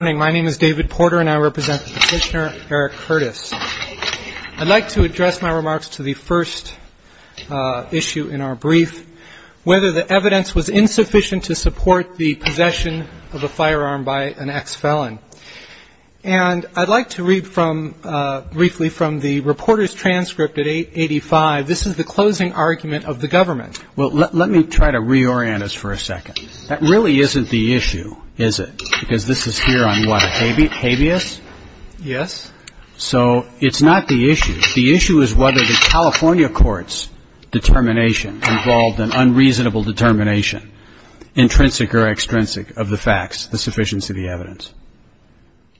Good morning. My name is David Porter and I represent the petitioner Eric Curtis. I'd like to address my remarks to the first issue in our brief, whether the evidence was insufficient to support the possession of a firearm by an ex-felon. And I'd like to read briefly from the reporter's transcript at 8.85. This is the closing argument of the government. Well, let me try to reorient us for a second. That really isn't the issue, is it? Because this is here on what, a habeas? Yes. So it's not the issue. The issue is whether the California court's determination involved an unreasonable determination, intrinsic or extrinsic, of the facts, the sufficiency of the evidence.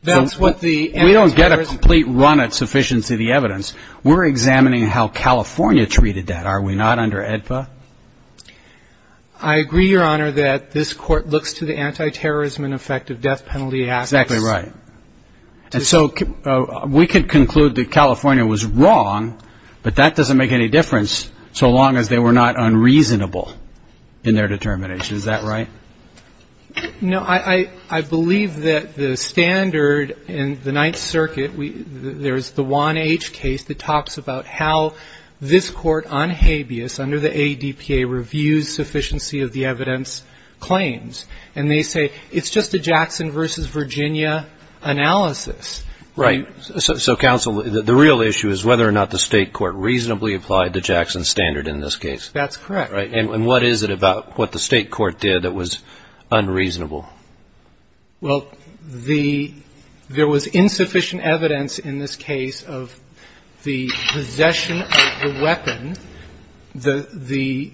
That's what the answer is. We don't get a complete run at sufficiency of the evidence. We're examining how California treated that, are we not, under AEDPA? I agree, Your Honor, that this Court looks to the anti-terrorism and effective death penalty acts. Exactly right. And so we could conclude that California was wrong, but that doesn't make any difference, so long as they were not unreasonable in their determination. Is that right? No, I believe that the standard in the Ninth Circuit, there's the 1H case that talks about how this Court, on habeas, under the AEDPA reviews sufficiency of the evidence claims, and they say it's just a Jackson versus Virginia analysis. Right. So, counsel, the real issue is whether or not the state court reasonably applied the Jackson standard in this case. That's correct. And what is it about what the state court did that was unreasonable? Well, there was insufficient evidence in this case of the possession of the weapon. The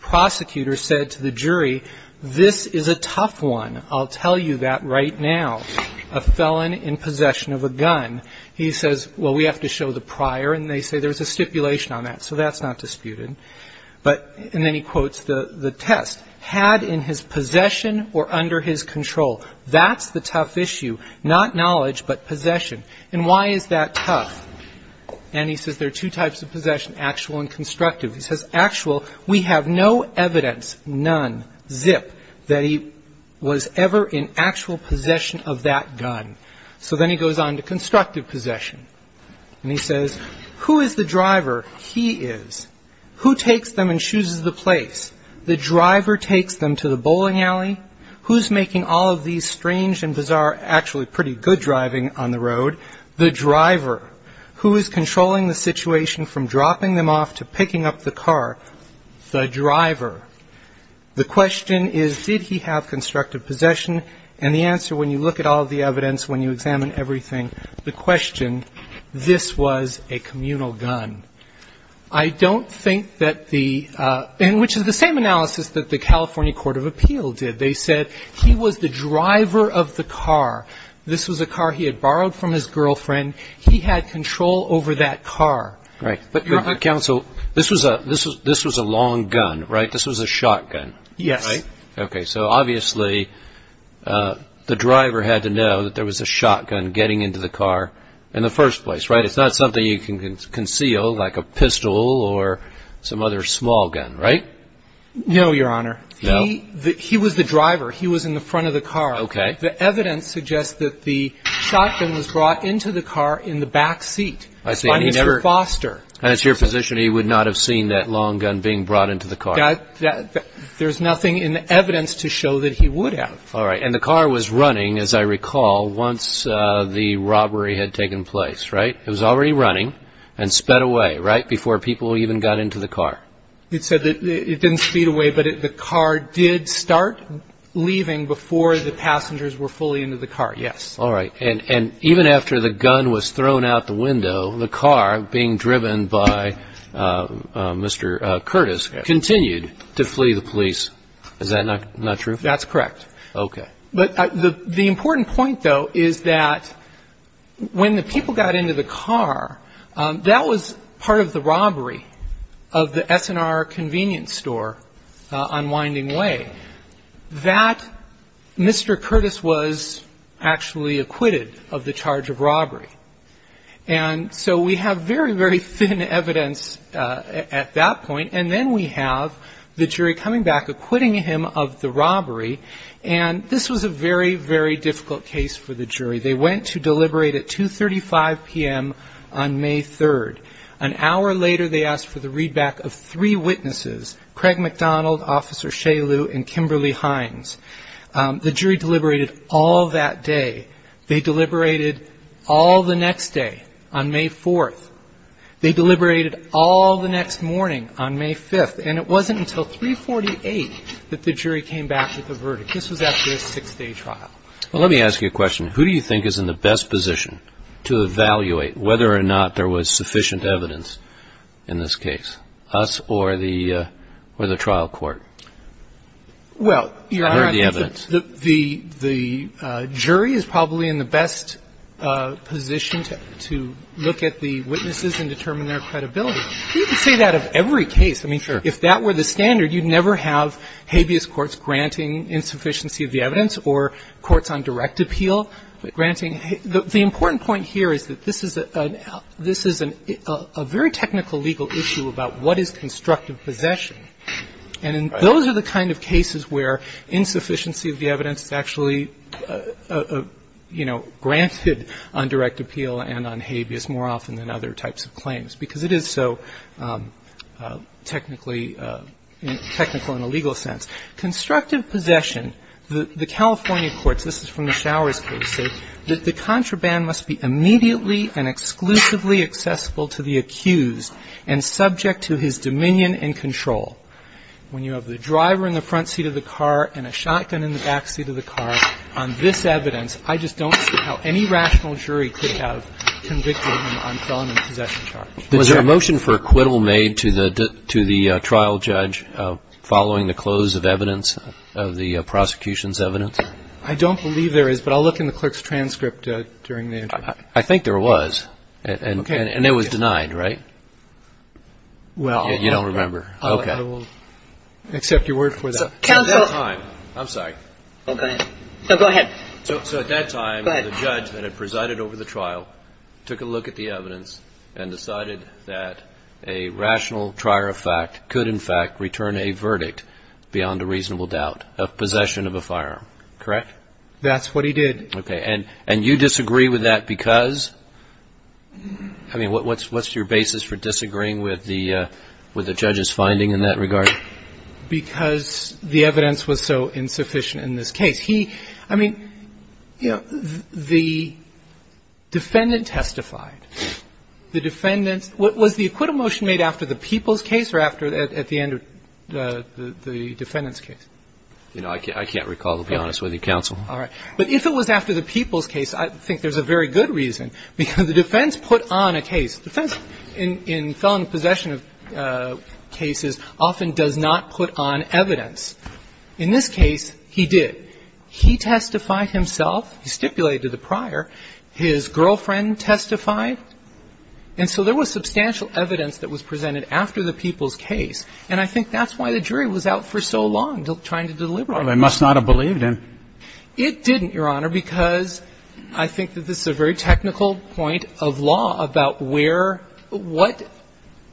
prosecutor said to the jury, this is a tough one. I'll tell you that right now, a felon in possession of a gun. He says, well, we have to show the prior, and they say there's a stipulation on that, so that's not disputed. And then he quotes the test, had in his possession or under his control. That's the tough issue, not knowledge, but possession. And why is that tough? And he says there are two types of possession, actual and constructive. He says actual, we have no evidence, none, zip, that he was ever in actual possession of that gun. So then he goes on to constructive possession, and he says, who is the driver? He is. Who takes them and chooses the place? The driver takes them to the bowling alley. Who's making all of these strange and bizarre, actually pretty good driving on the road? The driver. Who is controlling the situation from dropping them off to picking up the car? The driver. The question is, did he have constructive possession? And the answer, when you look at all of the evidence, when you examine everything, the question, this was a communal gun. I don't think that the, and which is the same analysis that the California Court of Appeal did. They said he was the driver of the car. This was a car he had borrowed from his girlfriend. He had control over that car. Right. But, counsel, this was a long gun, right? This was a shotgun, right? Yes. Okay. So, obviously, the driver had to know that there was a shotgun getting into the car in the first place, right? It's not something you can conceal, like a pistol or some other small gun, right? No, Your Honor. No. He was the driver. He was in the front of the car. Okay. The evidence suggests that the shotgun was brought into the car in the back seat. I see. By Mr. Foster. And it's your position he would not have seen that long gun being brought into the car? There's nothing in the evidence to show that he would have. All right. And the car was running, as I recall, once the robbery had taken place, right? It was already running and sped away, right, before people even got into the car? It said that it didn't speed away, but the car did start leaving before the passengers were fully into the car, yes. All right. And even after the gun was thrown out the window, the car, being driven by Mr. Curtis, continued to flee the police. Is that not true? That's correct. Okay. But the important point, though, is that when the people got into the car, that was part of the robbery of the S&R convenience store on Winding Way. That Mr. Curtis was actually acquitted of the charge of robbery. And so we have very, very thin evidence at that point. And then we have the jury coming back, acquitting him of the robbery. And this was a very, very difficult case for the jury. They went to deliberate at 2.35 p.m. on May 3rd. An hour later, they asked for the readback of three witnesses, Craig McDonald, Officer Shalu, and Kimberly Hines. The jury deliberated all that day. They deliberated all the next day on May 4th. They deliberated all the next morning on May 5th. And it wasn't until 3.48 that the jury came back with a verdict. This was after a six-day trial. Well, let me ask you a question. Who do you think is in the best position to evaluate whether or not there was sufficient evidence in this case? Us or the trial court? Well, Your Honor, the jury is probably in the best position to look at the witnesses and determine their credibility. You can say that of every case. I mean, if that were the standard, you'd never have habeas courts granting insufficiency of the evidence or courts on direct appeal granting. The important point here is that this is a very technical legal issue about what is constructive possession. And those are the kind of cases where insufficiency of the evidence is actually, you know, granted on direct appeal and on habeas more often than other types of claims because it is so technically, technical in a legal sense. Constructive possession, the California courts, this is from the Showers case, say that the contraband must be immediately and exclusively accessible to the accused and subject to his dominion and control. When you have the driver in the front seat of the car and a shotgun in the back seat of the car on this evidence, I just don't see how any rational jury could have convicted him on felony possession charges. Was there a motion for acquittal made to the trial judge following the close of evidence of the prosecution's evidence? I don't believe there is, but I'll look in the clerk's transcript during the interview. I think there was. Okay. And it was denied, right? Well. You don't remember. Okay. I will accept your word for that. Counsel. I'm sorry. Go ahead. So at that time, the judge that had presided over the trial took a look at the evidence and decided that a rational trier of fact could, in fact, return a verdict beyond a reasonable doubt of possession of a firearm, correct? That's what he did. Okay. And you disagree with that because, I mean, what's your basis for disagreeing with the judge's finding in that regard? Because the evidence was so insufficient in this case. He – I mean, you know, the defendant testified. The defendant's – was the acquittal motion made after the Peoples case or after at the end of the defendant's case? You know, I can't recall, to be honest with you, Counsel. All right. But if it was after the Peoples case, I think there's a very good reason, because the defense put on a case. The defense in felony possession of cases often does not put on evidence. In this case, he did. He testified himself. He stipulated the prior. His girlfriend testified. And so there was substantial evidence that was presented after the Peoples case. And I think that's why the jury was out for so long trying to deliberate. Well, they must not have believed him. It didn't, Your Honor, because I think that this is a very technical point of law about where – what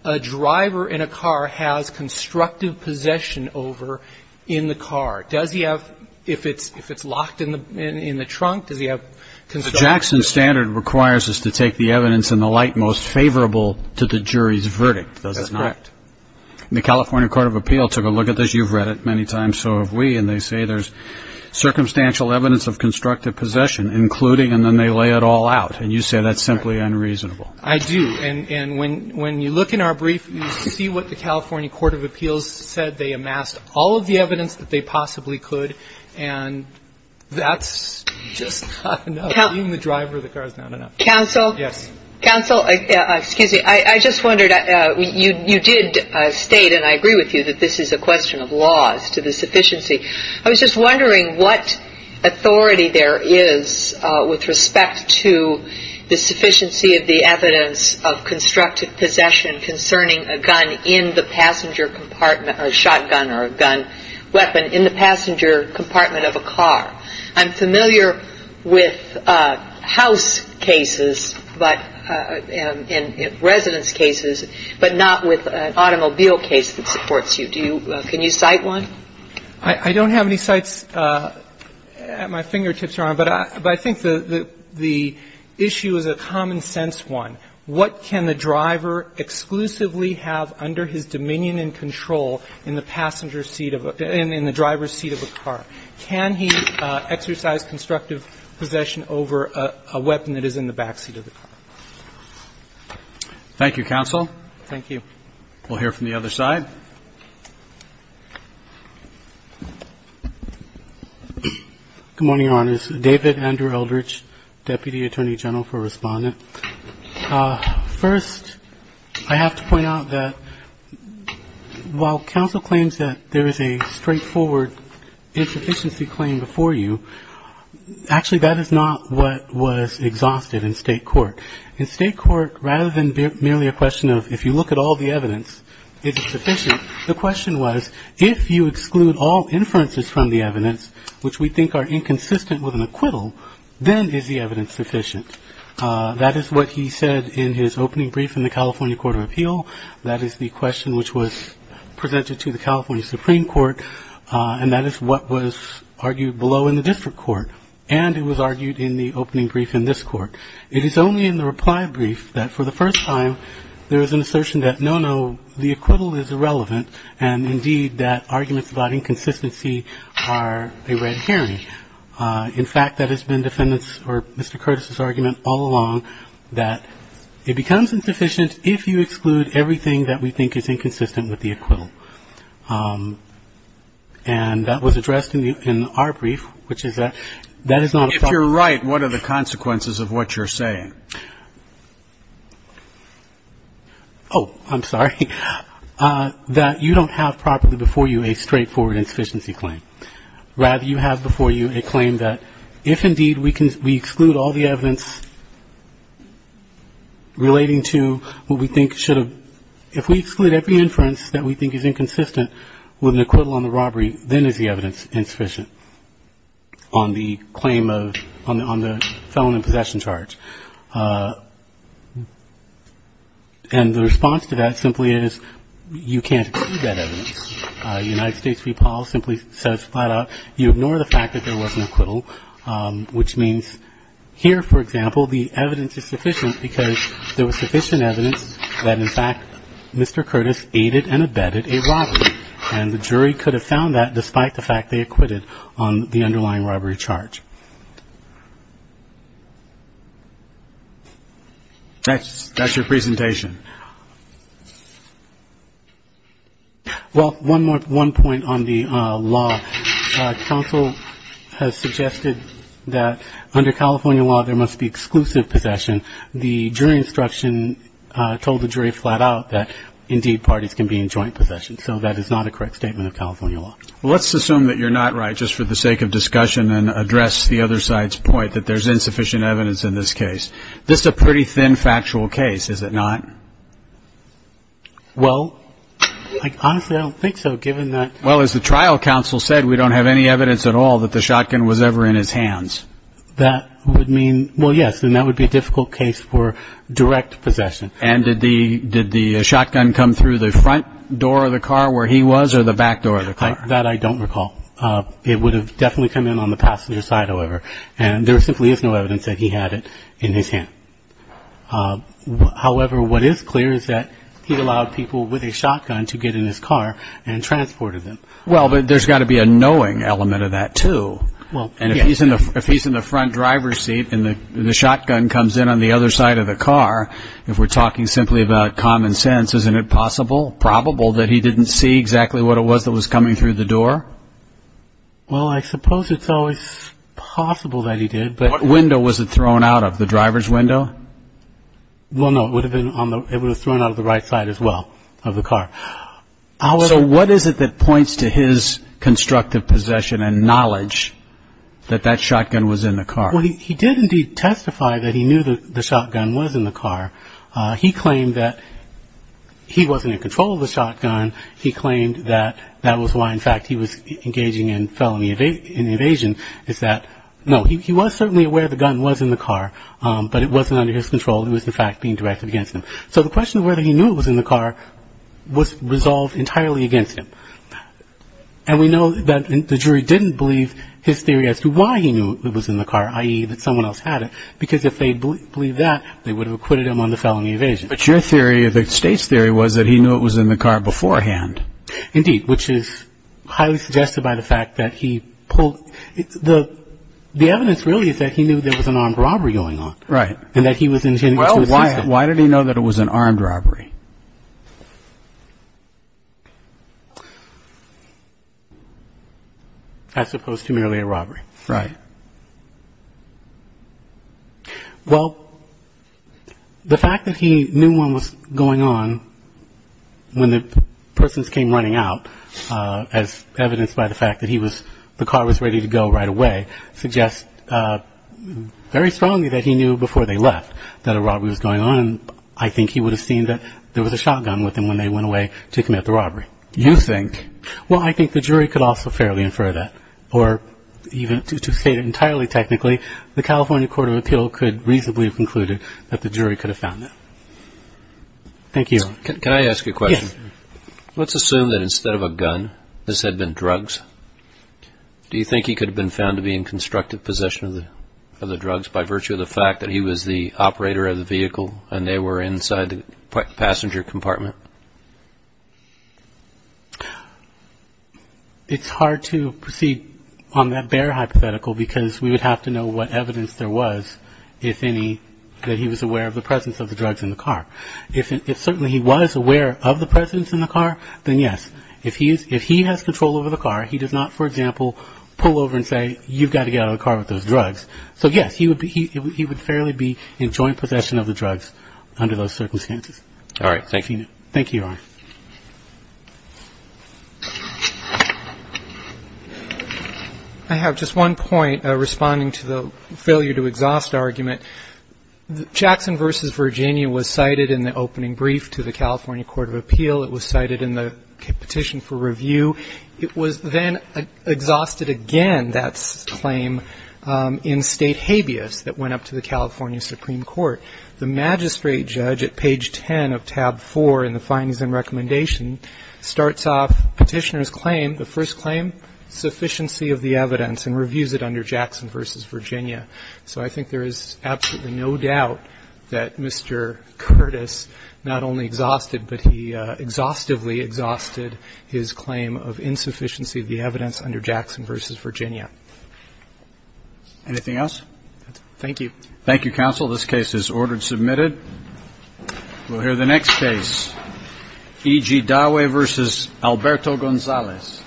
a driver in a car has constructive possession over in the car. Does he have – if it's locked in the trunk, does he have constructive – So Jackson's standard requires us to take the evidence in the light most favorable to the jury's verdict, does it not? That's correct. And the California Court of Appeals took a look at this. You've read it many times. So have we. And they say there's circumstantial evidence of constructive possession, including – and then they lay it all out. And you say that's simply unreasonable. I do. And when you look in our brief, you see what the California Court of Appeals said. They amassed all of the evidence that they possibly could. And that's just not enough. Even the driver of the car is not enough. Counsel. Yes. Counsel, excuse me. I just wondered – you did state, and I agree with you, that this is a question of laws to the sufficiency. I was just wondering what authority there is with respect to the sufficiency of the evidence of constructive possession concerning a gun in the passenger compartment – a shotgun or a gun weapon in the passenger compartment of a car. I'm familiar with house cases, but – and residence cases, but not with an automobile case that supports you. Do you – can you cite one? I don't have any cites at my fingertips, Your Honor. But I think the issue is a common-sense one. What can the driver exclusively have under his dominion and control in the passenger seat of a – in the driver's seat of a car? Can he exercise constructive possession over a weapon that is in the backseat of the car? Thank you, counsel. Thank you. We'll hear from the other side. Good morning, Your Honors. David Andrew Eldridge, Deputy Attorney General for Respondent. First, I have to point out that while counsel claims that there is a straightforward insufficiency claim before you, actually that is not what was exhausted in State court. In State court, rather than merely a question of if you look at all the evidence, is it sufficient, the question was if you exclude all inferences from the evidence, which we think are inconsistent with an acquittal, then is the evidence sufficient? That is what he said in his opening brief in the California Court of Appeal. That is the question which was presented to the California Supreme Court. And that is what was argued below in the district court. And it was argued in the opening brief in this court. It is only in the reply brief that, for the first time, there is an assertion that, no, no, the acquittal is irrelevant, and, indeed, that arguments about inconsistency are a red herring. In fact, that has been defendants' or Mr. Curtis' argument all along, that it becomes insufficient if you exclude everything that we think is inconsistent with the acquittal. And that was addressed in our brief, which is that that is not a problem. If you're right, what are the consequences of what you're saying? Oh, I'm sorry. That you don't have properly before you a straightforward insufficiency claim. Rather, you have before you a claim that if, indeed, we exclude all the evidence relating to what we think should have been, if we exclude every inference that we think is inconsistent with an acquittal on the robbery, then is the evidence insufficient on the claim of the felon in possession charge. And the response to that simply is you can't exclude that evidence. United States v. Paul simply says flat out you ignore the fact that there was an acquittal, which means here, for example, the evidence is sufficient because there was sufficient evidence that, in fact, Mr. Curtis aided and abetted a robbery, and the jury could have found that despite the fact they acquitted on the underlying robbery charge. That's your presentation. Well, one more point on the law. Counsel has suggested that under California law there must be exclusive possession. The jury instruction told the jury flat out that, indeed, parties can be in joint possession. So that is not a correct statement of California law. Well, let's assume that you're not right just for the sake of discussion and address the other side's point that there's insufficient evidence in this case. This is a pretty thin factual case, is it not? Well, honestly, I don't think so, given that. Well, as the trial counsel said, we don't have any evidence at all that the shotgun was ever in his hands. That would mean, well, yes, then that would be a difficult case for direct possession. And did the shotgun come through the front door of the car where he was or the back door of the car? That I don't recall. It would have definitely come in on the passenger side, however. And there simply is no evidence that he had it in his hand. However, what is clear is that he allowed people with a shotgun to get in his car and transported them. Well, but there's got to be a knowing element of that too. And if he's in the front driver's seat and the shotgun comes in on the other side of the car, if we're talking simply about common sense, isn't it possible, probable that he didn't see exactly what it was that was coming through the door? Well, I suppose it's always possible that he did. What window was it thrown out of, the driver's window? Well, no, it would have been thrown out of the right side as well of the car. So what is it that points to his constructive possession and knowledge that that shotgun was in the car? Well, he did indeed testify that he knew that the shotgun was in the car. And he claimed that that was why, in fact, he was engaging in felony evasion is that, no, he was certainly aware the gun was in the car, but it wasn't under his control. It was, in fact, being directed against him. So the question of whether he knew it was in the car was resolved entirely against him. And we know that the jury didn't believe his theory as to why he knew it was in the car, i.e. that someone else had it, because if they believed that, they would have acquitted him on the felony evasion. But your theory, the state's theory, was that he knew it was in the car beforehand. Indeed, which is highly suggested by the fact that he pulled – the evidence really is that he knew there was an armed robbery going on. Right. And that he was – Well, why did he know that it was an armed robbery? As opposed to merely a robbery. Right. Well, the fact that he knew one was going on when the persons came running out, as evidenced by the fact that he was – the car was ready to go right away, suggests very strongly that he knew before they left that a robbery was going on, and I think he would have seen that there was a shotgun with him when they went away to commit the robbery. You think? Well, I think the jury could also fairly infer that, or even to state it entirely technically, the California Court of Appeal could reasonably have concluded that the jury could have found it. Thank you. Can I ask you a question? Yes. Let's assume that instead of a gun, this had been drugs. Do you think he could have been found to be in constructive possession of the drugs by virtue of the fact that he was the operator of the vehicle and they were inside the passenger compartment? It's hard to proceed on that bare hypothetical because we would have to know what evidence there was, if any, that he was aware of the presence of the drugs in the car. If certainly he was aware of the presence in the car, then yes. If he has control over the car, he does not, for example, pull over and say, you've got to get out of the car with those drugs. So, yes, he would fairly be in joint possession of the drugs under those circumstances. All right. Thank you. Thank you, Ron. I have just one point responding to the failure-to-exhaust argument. Jackson v. Virginia was cited in the opening brief to the California Court of Appeal. It was cited in the petition for review. It was then exhausted again, that claim, in State habeas that went up to the California Supreme Court. The magistrate judge at page 10 of tab 4 in the findings and recommendation starts off Petitioner's claim, the first claim, sufficiency of the evidence and reviews it under Jackson v. Virginia. So I think there is absolutely no doubt that Mr. Curtis not only exhausted, but he exhaustively exhausted his claim of insufficiency of the evidence under Jackson v. Virginia. Anything else? Thank you. Thank you, counsel. This case is ordered submitted. We'll hear the next case, E.G. Dowie v. Alberto Gonzalez.